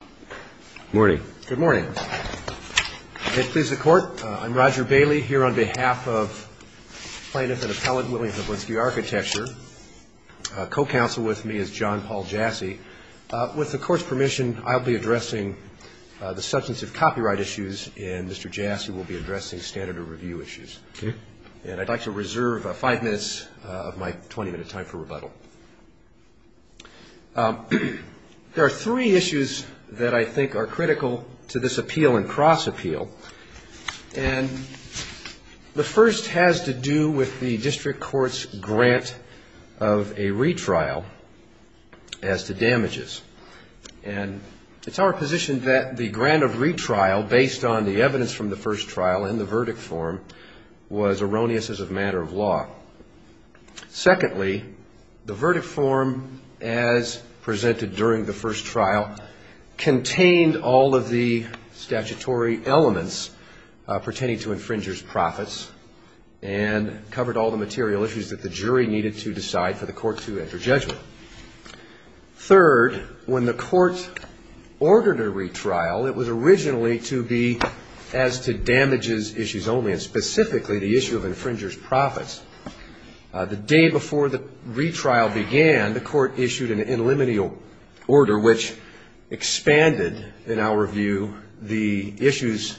with me is John Paul Jassy. With the Court's permission, I'll be addressing the substance of copyright issues, and Mr. Jassy will be addressing standard of review issues. And I'd like to reserve five minutes of my 20-minute time for rebuttal. There are three issues that I think are critical to this appeal and cross-appeal, and the first has to do with the District Court's grant of a retrial as to damages. And it's our position that the grant of retrial, based on the evidence from the first trial in the verdict form, was erroneous as a matter of law. Secondly, the verdict form is not a matter of law. It's not a matter of law. The verdict form, as presented during the first trial, contained all of the statutory elements pertaining to infringers' profits, and covered all the material issues that the jury needed to decide for the Court to enter judgment. Third, when the Court ordered a retrial, it was originally to be as to damages issues only, and specifically the issue of infringers' profits. The day before the Court issued an in limineal order, which expanded, in our view, the issues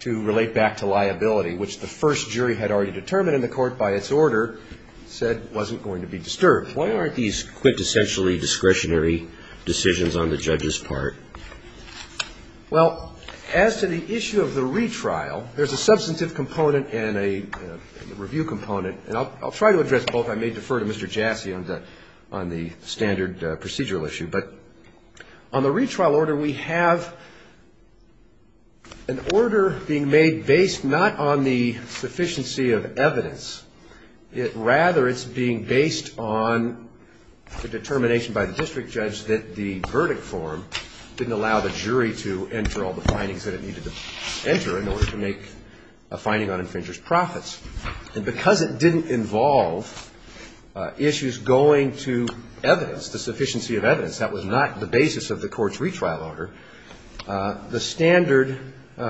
to relate back to liability, which the first jury had already determined, and the Court, by its order, said wasn't going to be disturbed. Why aren't these quintessentially discretionary decisions on the judge's part? Well, as to the issue of the retrial, there's a substantive component and a review component, and I'll try to address both. I may refer to Mr. Jassy on the standard procedural issue, but on the retrial order, we have an order being made based not on the sufficiency of evidence. Rather, it's being based on the determination by the district judge that the verdict form didn't allow the jury to enter all the findings that it needed to enter in order to make a finding on infringers' profits. And because it didn't involve issues going to evidence, the sufficiency of evidence, that was not the basis of the Court's retrial order, the standard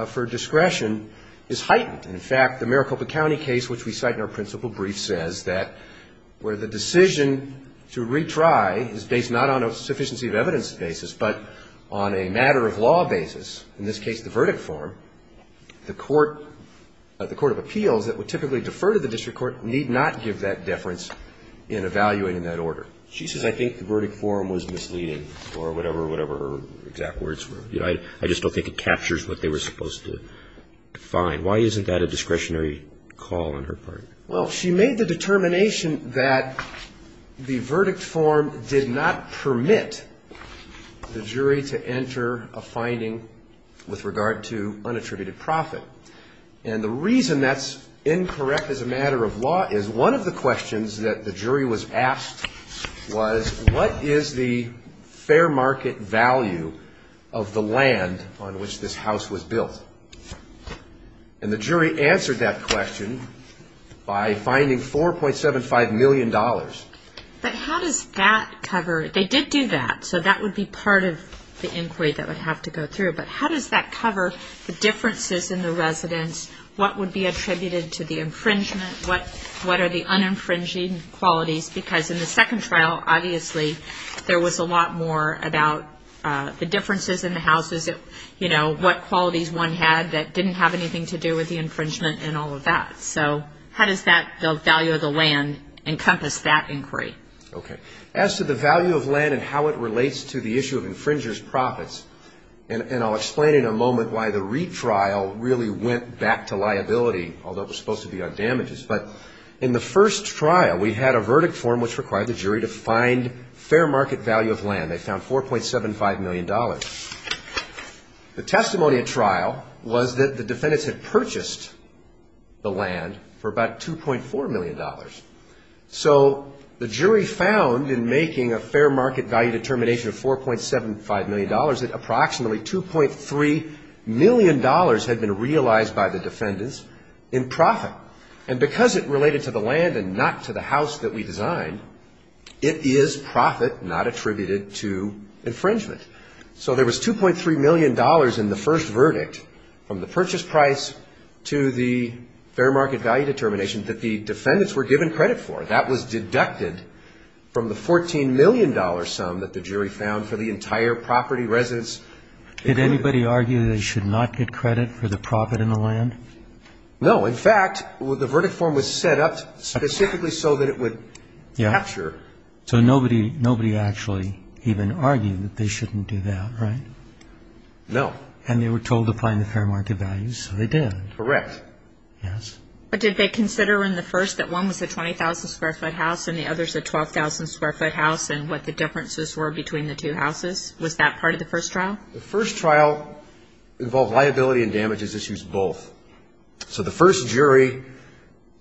for discretion is heightened. And, in fact, the Maricopa County case, which we cite in our principal brief, says that where the decision to retry is based not on a sufficiency of evidence basis, but on a matter-of-law basis, in this case, the verdict form, the Court of Appeals, that would typically defer to the district court, need not give that deference in evaluating that order. She says, I think the verdict form was misleading, or whatever, whatever exact words were. I just don't think it captures what they were supposed to find. Why isn't that a discretionary call on her part? Well, she made the determination that the verdict form did not permit the jury to enter a finding with regard to unattributed profit. And the reason that's incorrect as a matter of law is one of the questions that the jury was asked was, what is the fair market value of the land on which this house was built? And the jury answered that question by finding $4.75 million. But how does that cover, they did do that, so that would be part of the inquiry that would have to go through, but how does that encompass that inquiry? Okay. As to the value of land and how it relates to the issue of infringer's profits, and I'll explain in a moment why the retrial really went back to liability, although it was supposed to be on damages, but in the first trial we had a verdict form which required the jury to find fair market value of land. They found $4.75 million. The testimony at trial was that the defendants had purchased the land for about $2.4 million. So the jury found in making a fair market value determination of $4.75 million that approximately $2.3 million had been realized by the defendants in profit. And because it related to the land and not to the house that we designed, it is profit not attributed to infringement. So there was $2.3 million in the first verdict from the purchase price to the fair market value determination that the defendants were given credit for. That was deducted from the $14 million sum that the jury found for the entire property, residents. Did anybody argue they should not get credit for the profit in the land? No. In fact, the verdict form was set up specifically so that it would capture. So nobody actually even argued that they shouldn't do that, right? No. And they were told to find the fair market value, so they did. Correct. Yes. But did they consider in the first that one was a 20,000-square-foot house and the other is a 12,000-square-foot house and what the differences were between the two houses? Was that part of the first trial? The first trial involved liability and damages issues both. So the first jury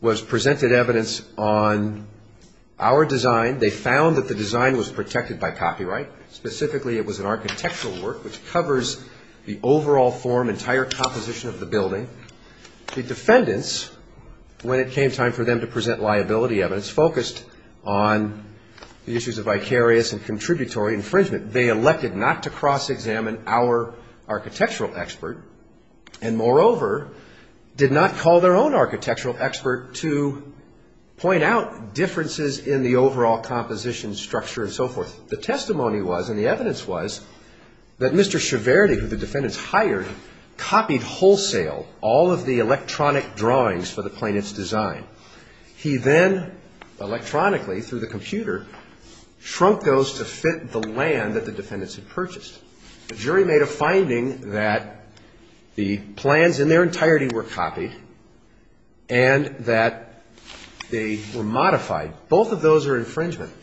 was presented evidence on our design. They found that the design was protected by copyright. Specifically, it was an architectural work, which covers the overall form, entire composition of the building. The defendants, when it came time for them to present liability evidence, focused on the issues of vicarious and contributory infringement. They elected not to cross-examine our architectural expert and, moreover, did not call their own architectural expert to point out differences in the overall composition, structure, and so forth. The testimony was, and the evidence was, that Mr. Ciaverdi, who the defendants hired, copied wholesale all of the electronic drawings for the plaintiff's design. He then electronically, through the computer, shrunk those to fit the land that the defendants had purchased. The jury made a finding that the plans in their entirety were copied and that they were modified. Both of those are infringement.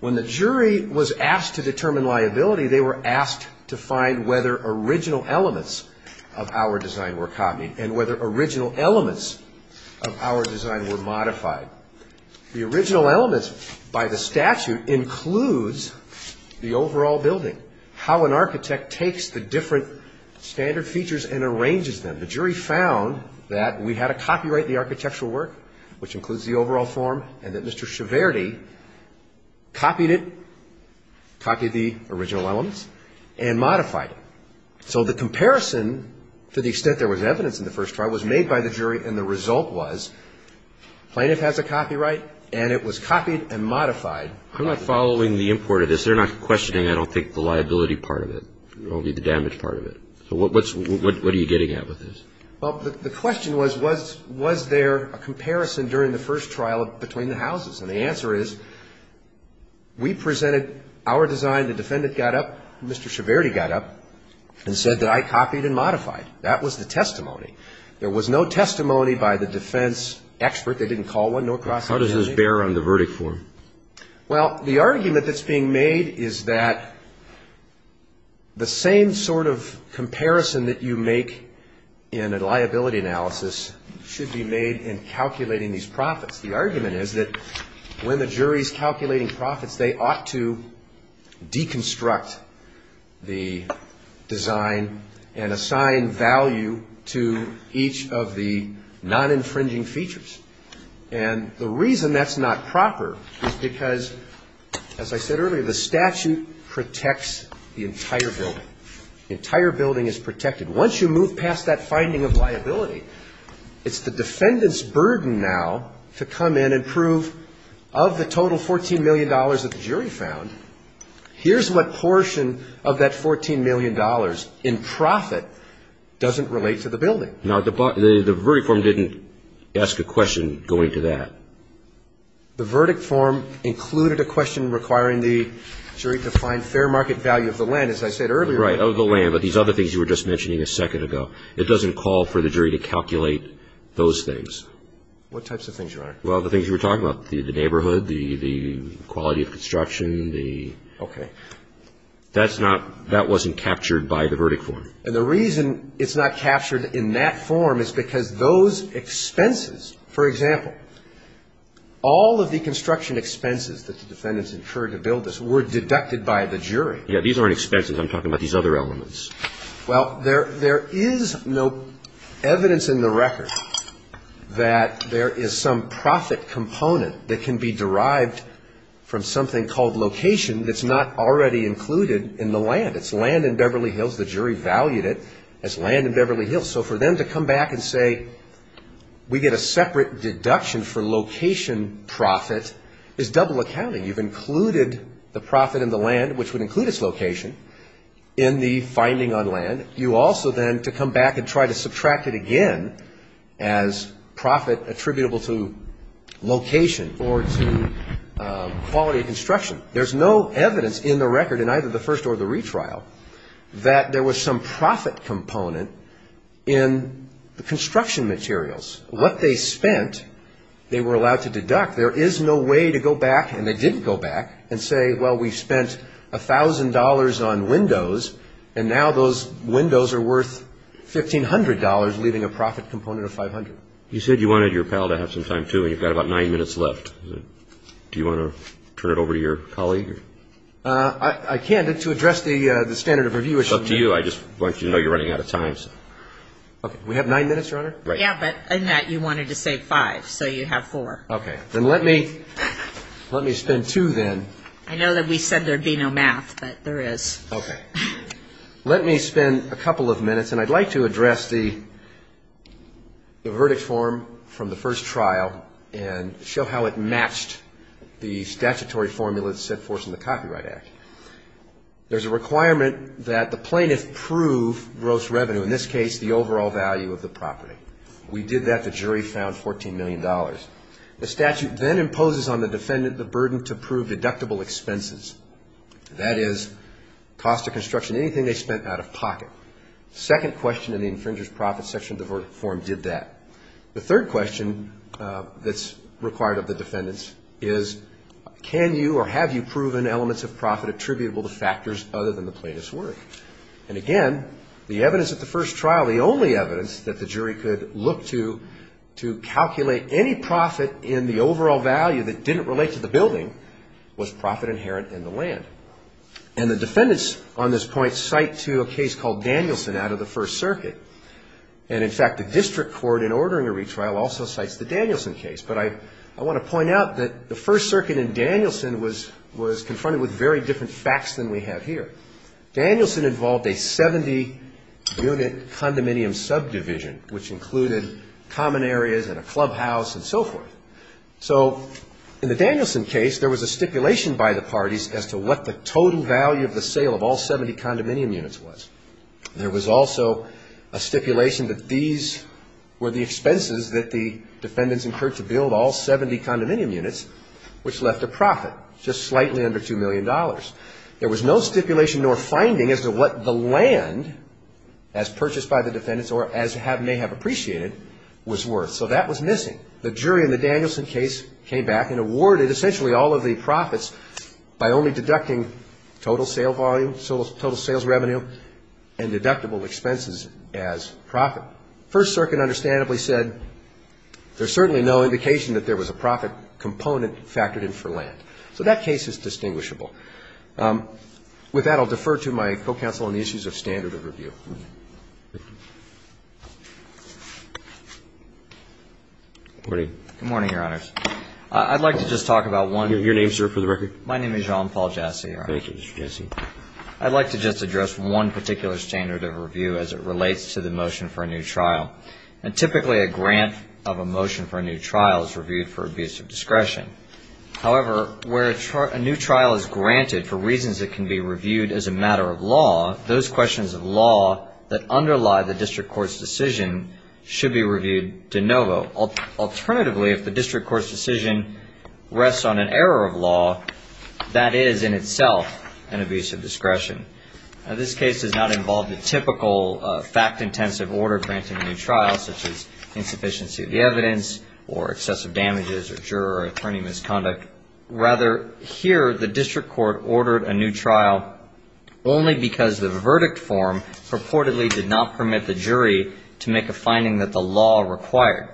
When the jury was asked to determine liability, they were asked to find whether original elements of our design were copied and whether original elements of our design were modified. The original elements, by the statute, includes the overall building, how an architect takes the different standard features and arranges them. The jury found that we had to copyright the architectural work, which includes the overall form, and that Mr. Ciaverdi copied it, copied the original elements, and modified it. So the comparison, to the extent there was evidence in the first trial, was made by the jury, and the result was plaintiff has a copyright, and it was copied and modified. I'm not following the import of this. They're not questioning, I don't think, the liability part of it, only the damage part of it. So what are you getting at with this? Well, the question was, was there a comparison during the first trial between the houses? And the answer is, we presented our design, the defendant got up, Mr. Ciaverdi got up, and said that I copied and modified. That was the testimony. There was no testimony by the defense expert. They didn't call one, nor cross-examined any. How does this bear on the verdict form? Well, the argument that's being made is that the same sort of comparison that you make in a liability analysis should be made in calculating these profits. The argument is that when the jury's calculating profits, they ought to deem them to be fair, and they ought to deconstruct the design and assign value to each of the non-infringing features. And the reason that's not proper is because, as I said earlier, the statute protects the entire building. The entire building is protected. Once you move past that finding of liability, it's the defendant's burden now to come in and say, here's what portion of that $14 million in profit doesn't relate to the building. Now, the verdict form didn't ask a question going to that. The verdict form included a question requiring the jury to find fair market value of the land, as I said earlier. Right, of the land, but these other things you were just mentioning a second ago. It doesn't call for the jury to calculate those things. What types of things, Your Honor? The, okay. That's not, that wasn't captured by the verdict form. And the reason it's not captured in that form is because those expenses, for example, all of the construction expenses that the defendants incurred to build this were deducted by the jury. Yeah, these aren't expenses. I'm talking about these other elements. Well, there is no evidence in the record that there is some profit component that can be derived from something called location that's not already included in the land. It's land in Beverly Hills. The jury valued it as land in Beverly Hills. So for them to come back and say we get a separate deduction for location profit is double accounting. You've included the profit in the land, which would include its location, in the finding on land. You also then to come back and try to subtract it again as profit attributable to location or to quality of construction. There's no evidence in the record in either the first or the retrial that there was some profit component in the construction materials. What they spent they were allowed to deduct. There is no way to go back, and they didn't go back, and say, well, we spent $1,000 on windows, and now those windows are worth $1,500, leaving a profit component of $500. You said you wanted your pal to have some time, too, and you've got about nine minutes left. Do you want to turn it over to your colleague? I can, but to address the standard of review issue. It's up to you. I just want you to know you're running out of time. We have nine minutes, Your Honor? Yeah, but in that you wanted to say five, so you have four. Okay. Then let me spend two, then. I know that we said there would be no math, but there is. Okay. Let me spend a couple of minutes, and I'd like to address the verdict form from the first trial and show how it matched the statutory formula that's set forth in the Copyright Act. There's a requirement that the plaintiff prove gross revenue, in this case the overall value of the property. We did that. The jury found $14 million. The statute then imposes on the defendant the burden to prove deductible expenses. That is, cost of construction, anything they spent out of pocket. The second question in the infringer's profit section of the verdict form did that. The third question that's required of the defendants is can you or have you proven elements of profit attributable to factors other than the plaintiff's worth? And, again, the evidence at the first trial, the only evidence that the jury could look to to calculate any profit in the overall value that didn't relate to the building was profit inherent in the land. And the defendants on this point cite to a case called Danielson out of the First Circuit. And, in fact, the district court in ordering a retrial also cites the Danielson case. But I want to point out that the First Circuit in Danielson was confronted with very different facts than we have here. Danielson involved a 70-unit condominium subdivision, which included common areas and a clubhouse and so forth. So in the Danielson case, there was a stipulation by the parties as to what the total value of the sale of all 70 condominium units was. There was also a stipulation that these were the expenses that the $2 million. There was no stipulation nor finding as to what the land as purchased by the defendants or as may have appreciated was worth. So that was missing. The jury in the Danielson case came back and awarded essentially all of the profits by only deducting total sale volume, total sales revenue and deductible expenses as profit. First Circuit understandably said there's certainly no indication that there was a profit component factored in for land. So that case is distinguishable. With that, I'll defer to my co-counsel on the issues of standard of review. Good morning. Good morning, Your Honors. I'd like to just talk about one. Your name, sir, for the record? My name is John Paul Jassy. Thank you, Mr. Jassy. I'd like to just address one particular standard of review as it relates to the motion for a new trial. And typically a grant of a motion for a new trial is reviewed for abuse of discretion. However, where a new trial is granted for reasons that can be reviewed as a matter of law, those questions of law that underlie the district court's decision should be reviewed de novo. Alternatively, if the district court's decision rests on an error of law, that is in itself an abuse of discretion. Now this case does not involve the typical fact-intensive order granting a new trial such as insufficiency of the evidence or excessive damages or juror or attorney misconduct. Rather, here the district court ordered a new trial only because the verdict form purportedly did not permit the jury to make a finding that the law required.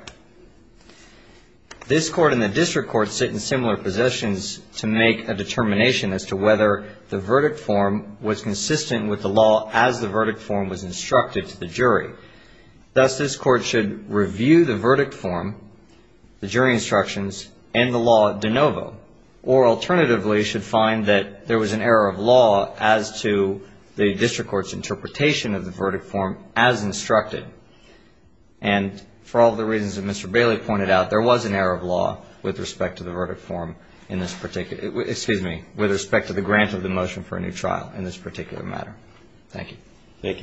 This court and the district court sit in similar positions to make a determination as to whether the court should review the verdict form, the jury instructions, and the law de novo. Or alternatively, should find that there was an error of law as to the district court's interpretation of the verdict form as instructed. And for all the reasons that Mr. Bailey pointed out, there was an error of law with respect to the verdict form in this particular excuse me, with respect to the grant of the motion for a new trial in this particular matter. Thank you.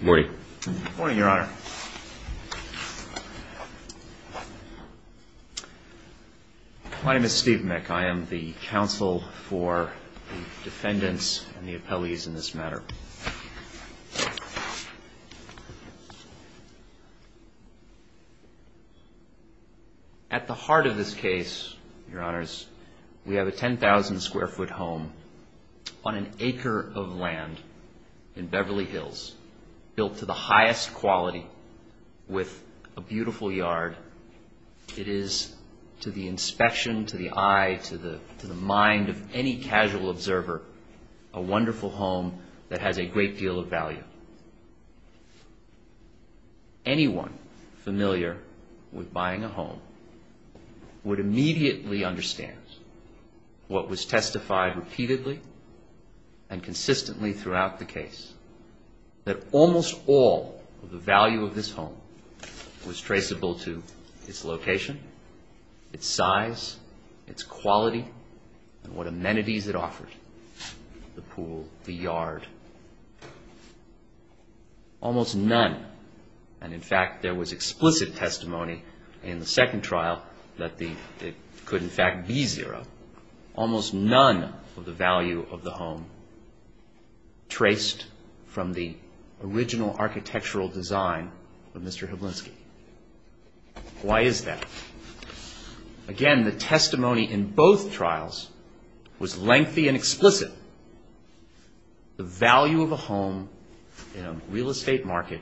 Good morning. My name is Steve Mick. I am the counsel for the defendants and the appellees in this matter. At the heart of this case, your honors, we have a 10,000 square foot home on an acre of land in Beverly Hills built to the highest quality with a beautiful yard. It is to the inspection, to the eye, to the mind of any casual observer, a great deal of value. Anyone familiar with buying a home would immediately understand what was testified repeatedly and consistently throughout the case, that almost all of the value of this home was traceable to its location, its size, its quality, and what amenities it offered, the pool, the yard. Almost none. And in fact, there was explicit testimony in the second trial that it could in fact be zero. Almost none of the value of the home traced from the original architectural design of Mr. Hiblinski. Why is that? Again, the testimony in both trials was lengthy and explicit. The value of a home in a real estate market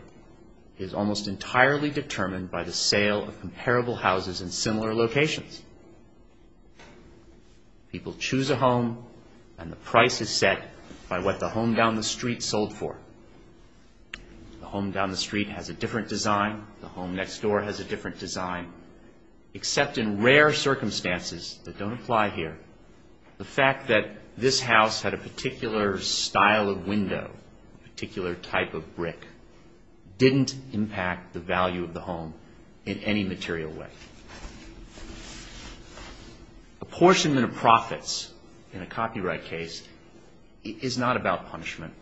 is almost entirely determined by the sale of comparable houses in similar locations. People choose a home and the price is set by what the home down the street design, the home next door has a different design. Except in rare circumstances that don't apply here, the fact that this house had a particular style of window, a particular type of brick, didn't impact the value of the home in any material way. Apportionment of profits in a copyright case is not about punishment.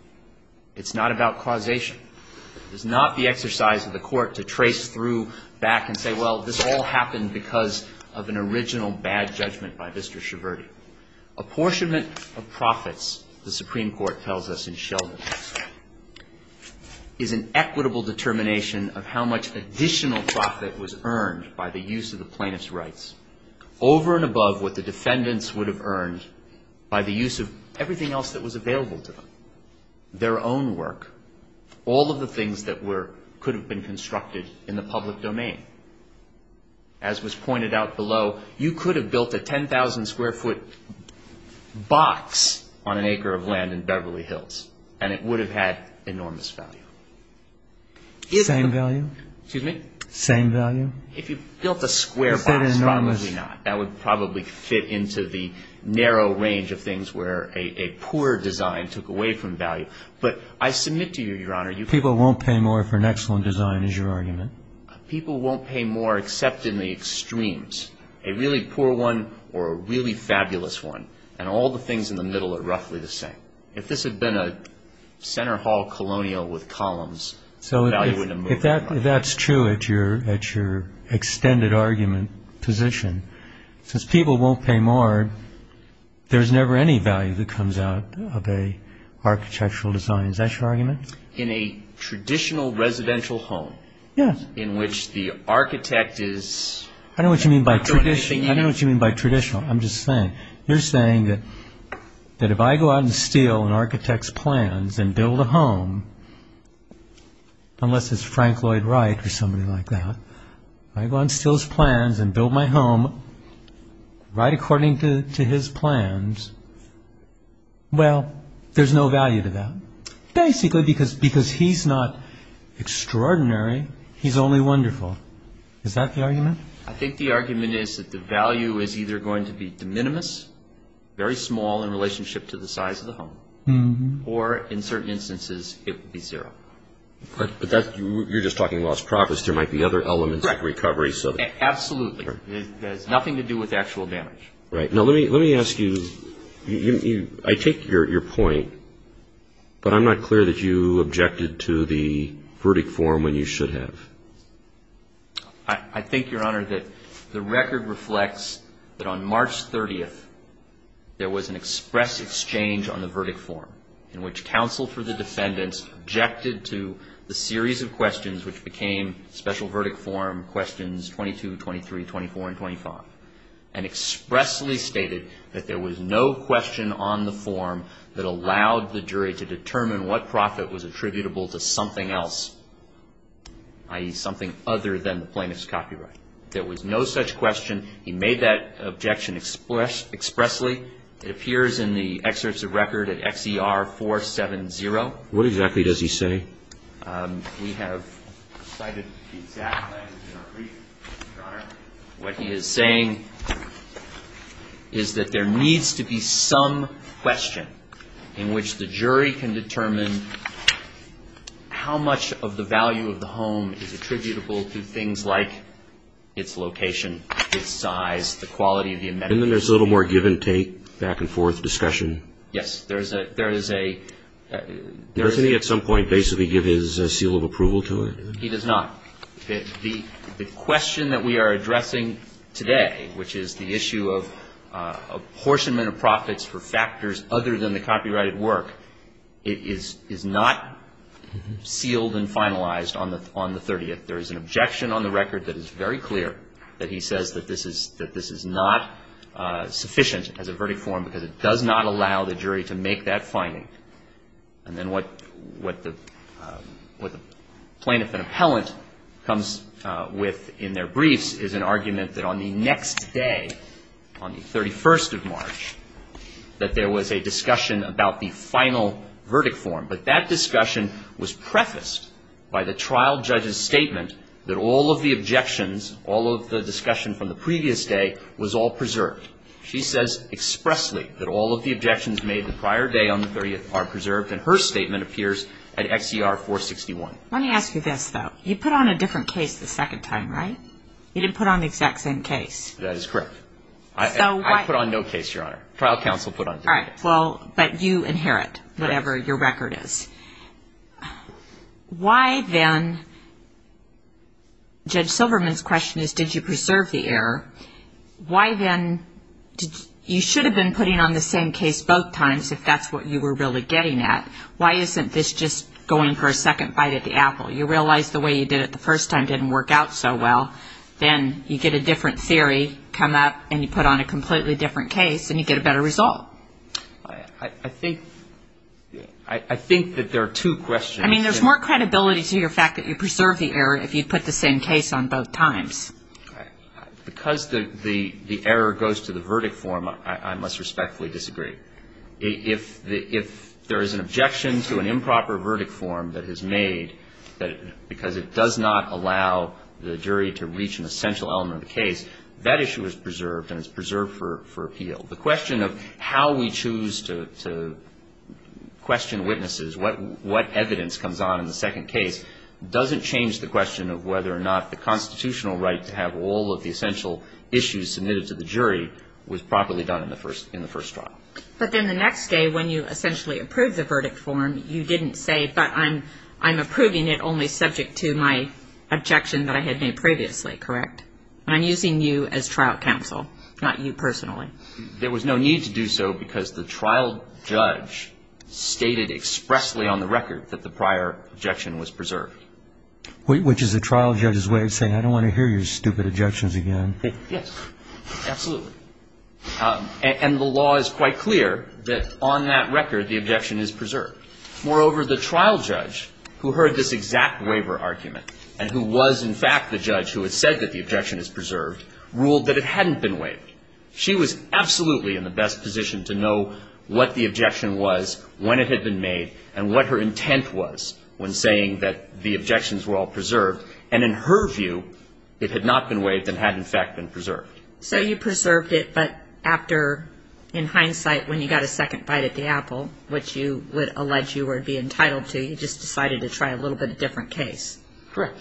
It's not about causation. It's not the exercise of the court to trace through back and say, well, this all happened because of an original bad judgment by Mr. Schiverti. Apportionment of profits, the Supreme Court tells us in Sheldon, is an equitable determination of how much additional profit was earned by the use of the plaintiff's rights over and above what the defendants would have earned by the use of everything else that was available to them, their own work, all of the things that could have been constructed in the public domain. As was pointed out below, you could have built a 10,000 square foot box on an acre of land in Beverly Hills and it would have had enormous value. Same value? If you built a square box, probably not. That would probably fit into the narrow range of things where a poor design took away from value. But I submit to you, Your Honor, People won't pay more for an excellent design is your argument. People won't pay more except in the extremes. A really poor one or a really fabulous one. And all the things in the middle are roughly the same. If this had been a center hall colonial with columns... So if that's true at your extended argument position, since people won't pay more, there's never any value that comes out of an architectural design. Is that your argument? In a traditional residential home in which the architect is... You're saying that if I go out and steal an architect's plans and build a home, unless it's Frank Lloyd Wright or somebody like that, I go out and steal his plans and build my home right according to his plans, well, there's no value to that. Basically because he's not extraordinary, he's only wonderful. Is that the argument? I think the argument is that the value is either going to be de minimis, very small in relationship to the size of the home, or in certain instances it would be zero. But you're just talking lost profits. There might be other elements of recovery. Absolutely. It has nothing to do with actual damage. Right. Now let me ask you, I take your point, but I'm not clear that you objected to the verdict form when you should have. I think, Your Honor, that the record reflects that on March 30th there was an express exchange on the verdict form in which counsel for the defendants objected to the series of questions which became special verdict form questions 22, 23, 24, and 25, and expressly stated that there was no question on the form that allowed the jury to determine what profit was attributable to something else, i.e., something other than the plaintiff's copyright. There was no such question. He made that objection expressly. It appears in the excerpts of record at XER 470. What exactly does he say? We have cited the exact language in our brief, Your Honor. What he is saying is that there needs to be some question in which the jury can determine how much of the value of the home is attributable to things like its location, its size, the quality of the amenities. And then there's a little more give-and-take, back-and-forth discussion. Does he at some point basically give his seal of approval to it? He does not. The question that we are addressing today, which is the issue of apportionment of profits for factors other than the copyrighted work, is not sealed and finalized on the 30th. There is an objection on the record that is very clear, that he says that this is not sufficient as a verdict form because it does not allow the jury to make that finding. And then what the plaintiff and appellant comes with in their briefs is an argument that on the next day, on the 31st of March, that there was a discussion about the final statement that all of the objections, all of the discussion from the previous day, was all preserved. She says expressly that all of the objections made the prior day on the 30th are preserved, and her statement appears at XER 461. Let me ask you this, though. You put on a different case the second time, right? You didn't put on the exact same case. That is correct. I put on no case, Your Honor. Trial counsel put on a different case. All right. Well, but you inherit whatever your record is. Why then, Judge Silverman's question is, did you preserve the error? Why then, you should have been putting on the same case both times, if that's what you were really getting at. Why isn't this just going for a second bite at the apple? You realize the way you did it the first time didn't work out so well. Then you get a different theory come up, and you put on a completely different case, and you get a better result. I think that there are two questions. I mean, there's more credibility to your fact that you preserved the error if you put the same case on both times. Because the error goes to the verdict form, I must respectfully disagree. If there is an objection to an improper verdict form that is made because it does not allow the jury to reach an essential element of the case, that issue is preserved, and it's preserved for appeal. The question of how we choose to question witnesses, what evidence comes on in the second case, doesn't change the question of whether or not the constitutional right to have all of the essential issues submitted to the jury was properly done in the first trial. But then the next day, when you essentially approved the verdict form, you didn't say, but I'm approving it only subject to my objection that I had made previously, correct? I'm using you as trial counsel, not you personally. There was no need to do so, because the trial judge stated expressly on the record that the prior objection was preserved. Which is the trial judge's way of saying, I don't want to hear your stupid objections again. Yes, absolutely. And the law is quite clear that on that record, the objection is preserved. Moreover, the trial judge, who heard this exact waiver argument, and who was, in fact, the judge who had said that the objection is preserved, ruled that it hadn't been waived. She was absolutely in the best position to know what the objection was, when it had been made, and what her intent was when saying that the objections were all preserved. And in her view, it had not been waived and had, in fact, been preserved. So you preserved it, but after, in hindsight, when you got a second bite at the apple, which you would allege you would be entitled to, you just decided to try a little bit of a different case. Correct.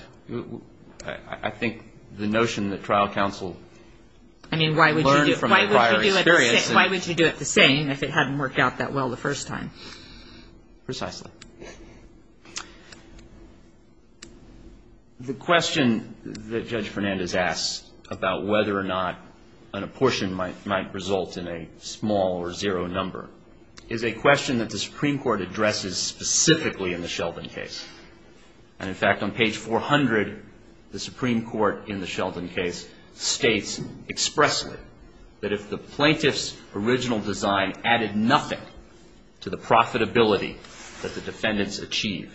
I think the notion that trial counsel learned from the prior experience is... I mean, why would you do it the same if it hadn't worked out that well the first time? Precisely. The question that Judge Fernandez asked about whether or not an apportion might result in a small or zero number is a question that the Supreme Court addresses specifically in the Sheldon case. And, in fact, on page 400, the Supreme Court, in the Sheldon case, states expressly that if the plaintiff's original design added nothing to the profitability that the defendants achieved,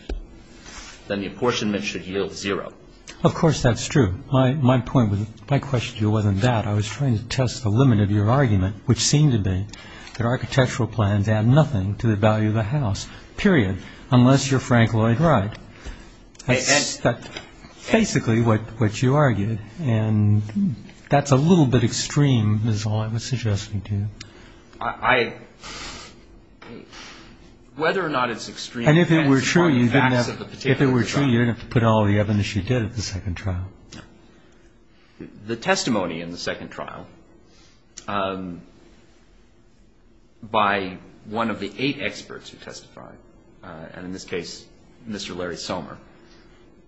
then the apportionment should yield zero. Of course that's true. My question to you wasn't that. I was trying to test the limit of your argument, which seemed to be that architectural plans add nothing to the value of the house, period, unless you're Frank Lloyd Wright. That's basically what you argued. And that's a little bit extreme, is all I was suggesting to you. I... Whether or not it's extreme depends upon the facts of the particular trial. And if it were true, you didn't have to put all the evidence you did at the second trial. No. The testimony in the second trial by one of the eight experts who testified, and in this case, Mr. Larry Somer,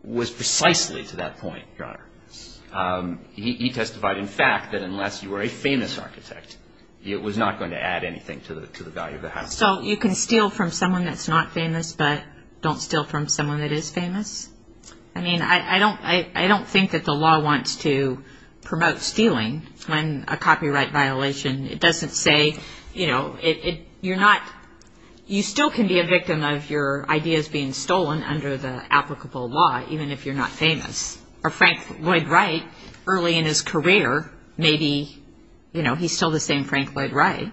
was precisely to that point, Your Honor. He testified, in fact, that unless you were a famous architect, it was not going to add anything to the value of the house. So you can steal from someone that's not famous, but don't steal from someone that is famous? I mean, I don't think that the law wants to promote stealing when a copyright violation. It doesn't say, you know, you're not... You still can be a victim of your ideas being stolen under the applicable law, even if you're not famous. Or Frank Lloyd Wright, early in his career, maybe, you know, he's still the same Frank Lloyd Wright.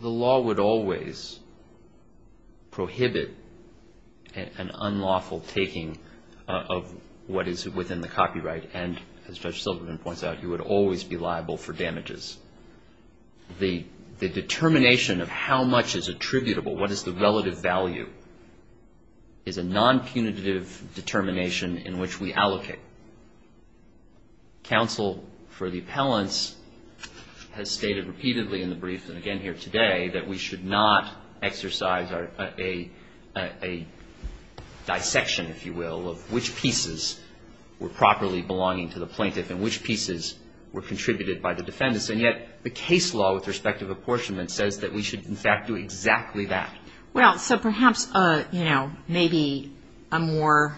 The law would always prohibit an unlawful taking of what is within the copyright. And as Judge Silverman points out, you would always be liable for damages. The determination of how much is attributable, what is the relative value, is a non-punitive determination in which we allocate. Counsel for the appellants has stated repeatedly in the brief, and again here today, that we should not exercise a dissection, if you will, of which pieces were properly belonging to the plaintiff and which pieces were contributed by the defendants. And yet the case law with respect to apportionment says that we should, in fact, do exactly that. Well, so perhaps, you know, maybe a more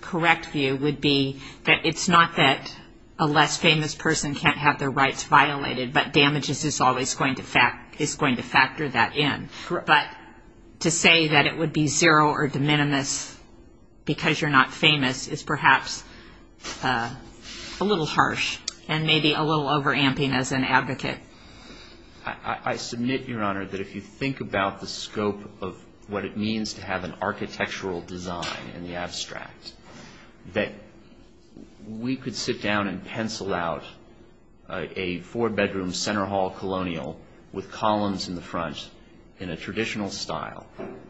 correct view would be that it's not that a less famous person can't have their rights violated, but damages is always going to factor that in. Correct. But to say that it would be zero or de minimis because you're not famous is perhaps a little harsh and maybe a little over-amping as an advocate. I submit, Your Honor, that if you think about the scope of what it means to have an architectural design in the abstract, that we could sit down and pencil out a four-bedroom center hall colonial with columns in the front in a traditional style,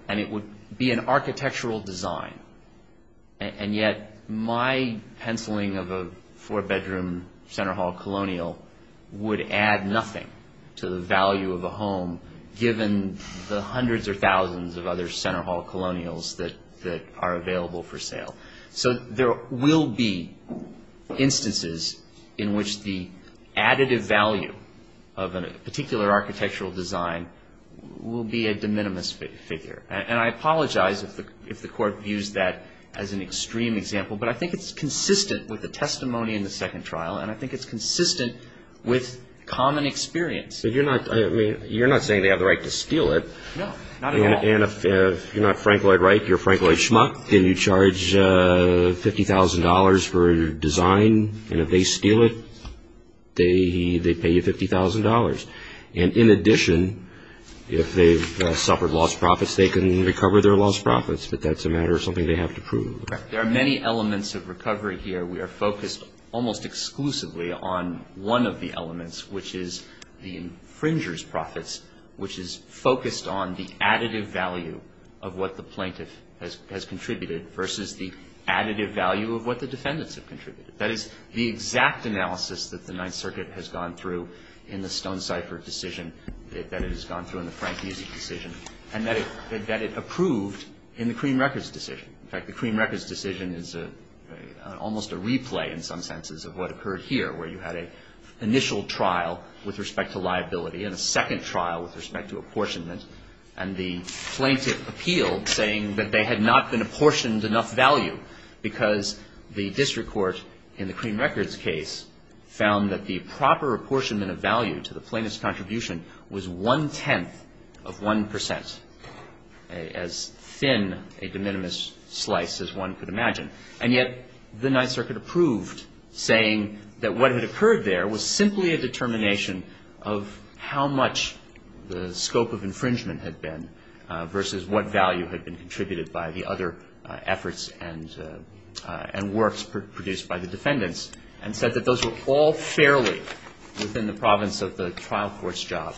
and it would be an architectural design. And yet my penciling of a four-bedroom center hall colonial would add nothing to the value of a home, given the hundreds or thousands of other center hall colonials that are available for sale. So there will be instances in which the additive value of a particular architectural design will be a de minimis figure. And I apologize if the Court views that as an extreme example, but I think it's consistent with the testimony in the second trial, and I think it's consistent with common experience. But you're not saying they have the right to steal it. No, not at all. And if you're not Frank Lloyd Wright, you're Frank Lloyd Schmuck, and you charge $50,000 for a design, and if they steal it, they pay you $50,000. And in addition, if they've suffered lost profits, they can recover their lost profits, but that's a matter of something they have to prove. There are many elements of recovery here. We are focused almost exclusively on one of the elements, which is the infringer's profits, which is focused on the additive value of what the plaintiff has contributed versus the additive value of what the defendants have contributed. That is the exact analysis that the Ninth Circuit has gone through in the Stonecipher decision, that it has gone through in the Frank Musi decision, and that it approved in the Cream Records decision. In fact, the Cream Records decision is almost a replay in some senses of what occurred here, where you had an initial trial with respect to liability and a second trial with respect to apportionment, and the plaintiff appealed saying that they had not been apportioned enough value because the district court in the Cream Records case found that the proper apportionment of value to the plaintiff's contribution was one-tenth of one percent, as thin a de minimis slice as one could imagine. And yet the Ninth Circuit approved, saying that what had occurred there was simply a determination of how much the scope of infringement had been versus what value had been contributed by the other efforts and works produced by the defendants, and said that those were all fairly within the province of the trial court's job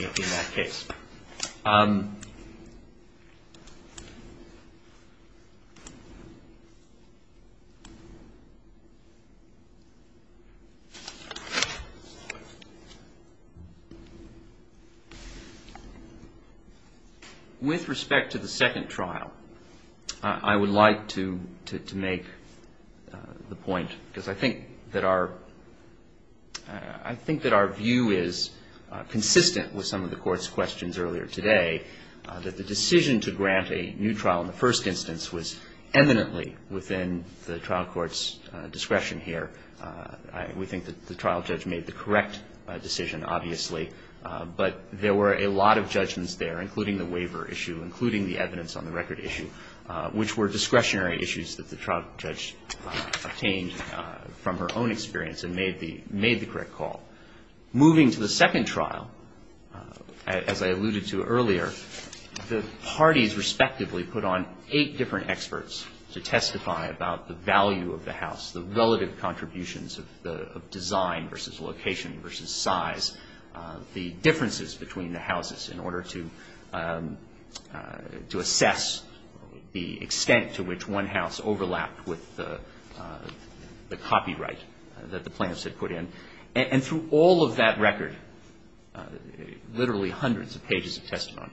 in that case. With respect to the second trial, I would like to make the point, because I think that our view is consistent with some of the court's questions earlier today. That the decision to grant a new trial in the first instance was eminently within the trial court's discretion here. We think that the trial judge made the correct decision, obviously, but there were a lot of judgments there, including the waiver issue, including the evidence on the record issue, which were discretionary issues that the trial judge obtained from her own experience and made the correct call. Moving to the second trial, as I alluded to earlier, the parties respectively put on eight different experts to testify about the value of the house, the relative contributions of design versus location versus size, the differences between the houses in order to assess the extent to which one house overlapped with the copyright that the plaintiffs had put in. And through all of that record, literally hundreds of pages of testimony,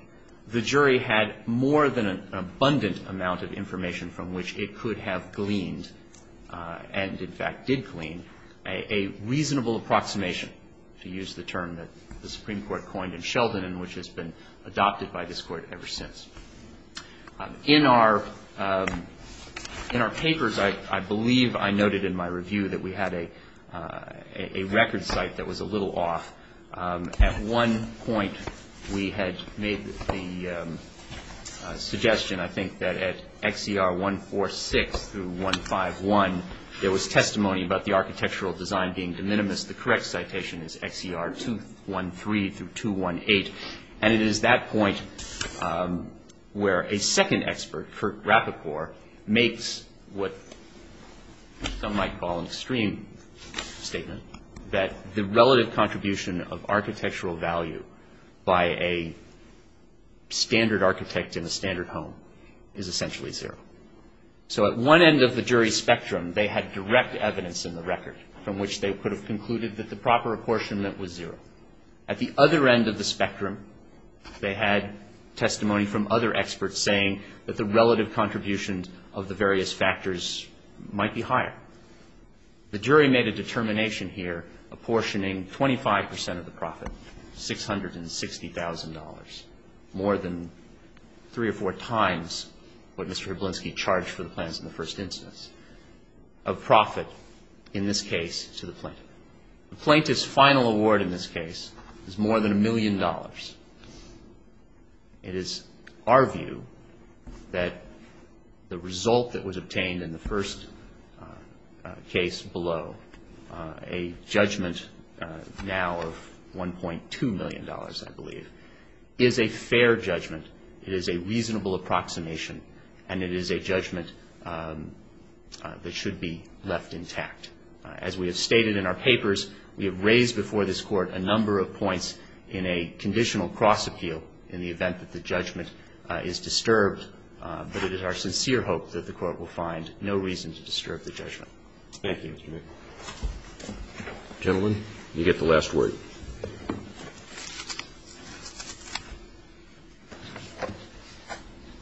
the jury had more than an abundant amount of information from which it could have gleaned, and in fact did glean, a reasonable approximation, to use the term that the Supreme Court coined in Sheldon and which has been adopted by this Court ever since. In our papers, I believe I noted in my review that we had a record site that was a little off. At one point we had made the suggestion, I think, that at XCR 146 through 151, there was testimony about the architectural design being de minimis. The correct citation is XCR 213 through 218, and it is that point where a second expert, Kurt Rapoport, makes what some might call an extreme statement, that the relative contribution of architectural value by a standard architect in a standard home is essentially zero. So at one end of the jury spectrum, they had direct evidence in the record from which they could have concluded that the proper apportionment was zero. At the other end of the spectrum, they had testimony from other experts saying that the relative contributions of the various factors might be higher. The jury made a determination here apportioning 25 percent of the profit, $660,000, more than three or four times what Mr. Herblinski charged for the plans in the first instance, of profit in this case to the plaintiff. The plaintiff's final award in this case is more than a million dollars. It is our view that the result that was obtained in the first case below, a judgment now of $1.2 million, I believe, is a fair judgment. It is a reasonable approximation, and it is a judgment that should be left intact. As we have stated in our papers, we have raised before this Court a number of points in a conditional cross-appeal in the event that the judgment is disturbed. But it is our sincere hope that the Court will find no reason to disturb the judgment. Thank you, Mr. McNamara. Gentlemen, you get the last word.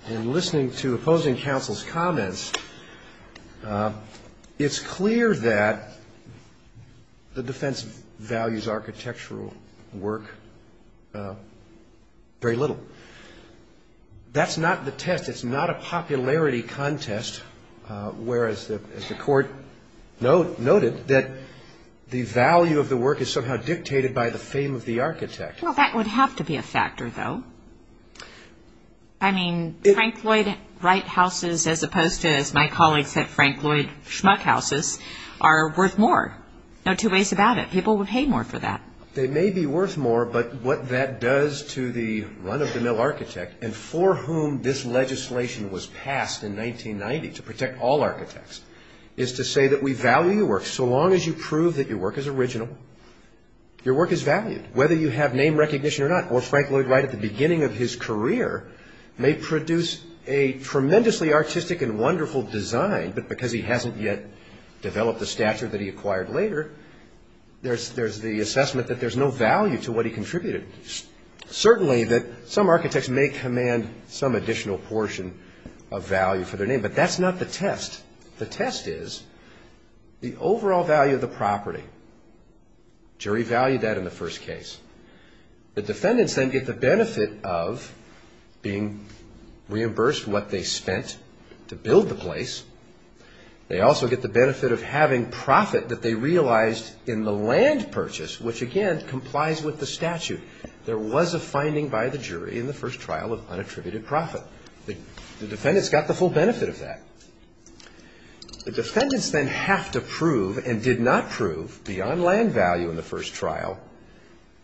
In listening to opposing counsel's comments, it's clear that the defense values architectural work very little. That's not the test. It's not a popularity contest, whereas the Court noted that the value of the work is somehow dictated by the fame of the architect. Well, that would have to be a factor, though. I mean, Frank Lloyd Wright houses, as opposed to, as my colleague said, Frank Lloyd Schmuck houses, are worth more. No two ways about it. They may be worth more, but what that does to the run-of-the-mill architect, and for whom this legislation was passed in 1990 to protect all architects, is to say that we value your work so long as you prove that your work is original, your work is valued. Whether you have name recognition or not, or Frank Lloyd Wright at the beginning of his career may produce a tremendously artistic and wonderful design, but because he hasn't yet developed the stature that he acquired later, there's the assessment that there's no value to what he contributed. Certainly that some architects may command some additional portion of value for their name, but that's not the test. The test is the overall value of the property. Jury valued that in the first case. The defendants then get the benefit of being reimbursed what they spent to build the place. They also get the benefit of having profit that they realized in the land purchase, which, again, complies with the statute. There was a finding by the jury in the first trial of unattributed profit. The defendants got the full benefit of that. The defendants then have to prove and did not prove, beyond land value in the first trial,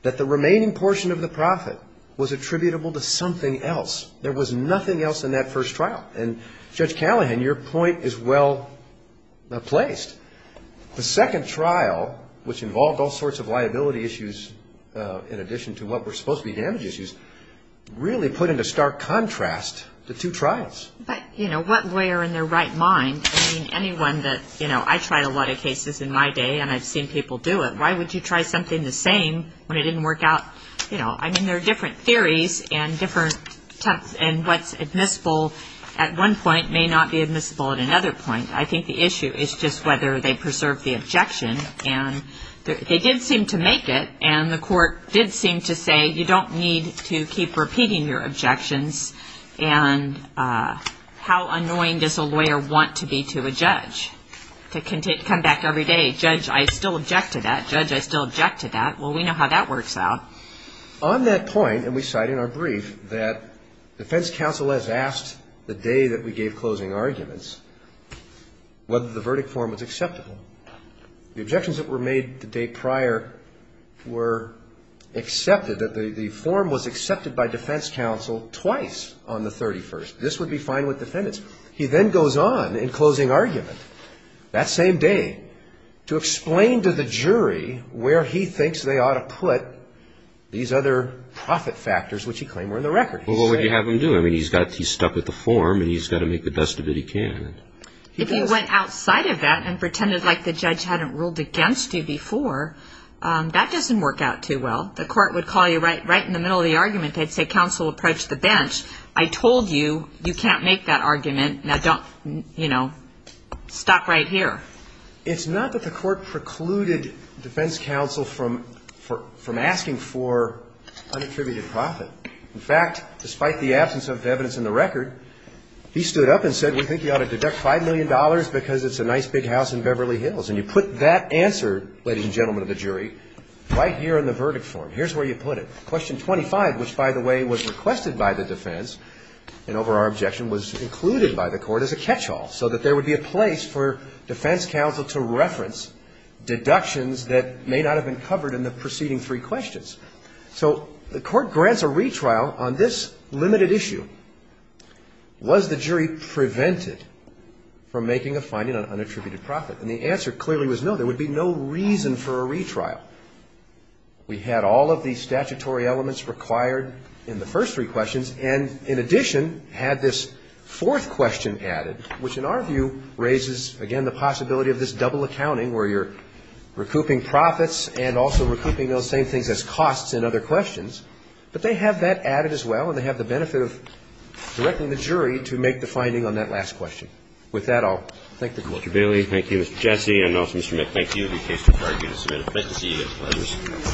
that the remaining portion of the profit was attributable to something else. There was nothing else in that first trial, and Judge Callahan, your point is well placed. The second trial, which involved all sorts of liability issues in addition to what were supposed to be damage issues, really put into stark contrast the two trials. But, you know, what lawyer in their right mind, I mean, anyone that, you know, I tried a lot of cases in my day and I've seen people do it. Why would you try something the same when it didn't work out? You know, I mean, there are different theories and what's admissible at one point may not be admissible at another point. I think the issue is just whether they preserve the objection. And they did seem to make it, and the court did seem to say you don't need to keep repeating your objections. And how annoying does a lawyer want to be to a judge, to come back every day, judge, I still object to that. Judge, I still object to that. Well, we know how that works out. On that point, and we cite in our brief that defense counsel has asked the day that we gave closing arguments whether the verdict form was acceptable. The objections that were made the day prior were accepted, that the form was accepted by defense counsel twice on the 31st. This would be fine with defendants. He then goes on in closing argument that same day to explain to the jury where he thinks they ought to put these other profit factors, which he claimed were in the record. Well, what would you have him do? I mean, he's stuck with the form and he's got to make the best of it he can. If he went outside of that and pretended like the judge hadn't ruled against you before, that doesn't work out too well. The court would call you right in the middle of the argument, they'd say counsel approach the bench, I told you, you can't make that argument, now don't, you know, stop right here. It's not that the court precluded defense counsel from asking for unattributed profit. In fact, despite the absence of evidence in the record, he stood up and said we think you ought to deduct $5 million because it's a nice big house in Beverly Hills. And you put that answer, ladies and gentlemen of the jury, right here in the verdict form. Here's where you put it. Question 25, which, by the way, was requested by the defense and over our objection, was included by the court as a catch-all so that there would be a place for defense counsel to reference deductions that may not have been covered in the preceding three questions. So the court grants a retrial on this limited issue. Was the jury prevented from making a finding on unattributed profit? And the answer clearly was no, there would be no reason for a retrial. We had all of the statutory elements required in the first three questions, and in addition had this fourth question added, which in our view raises, again, the possibility of this double accounting where you're recouping profits and also recouping those same things as costs in other questions. But they have that added as well, and they have the benefit of directing the jury to make the finding on that last question. With that, I'll thank the Court. Thank you, Mr. Bailey. Thank you, Mr. Jesse. And also, Mr. Mac, thank you. The case is required to be submitted. Thank you.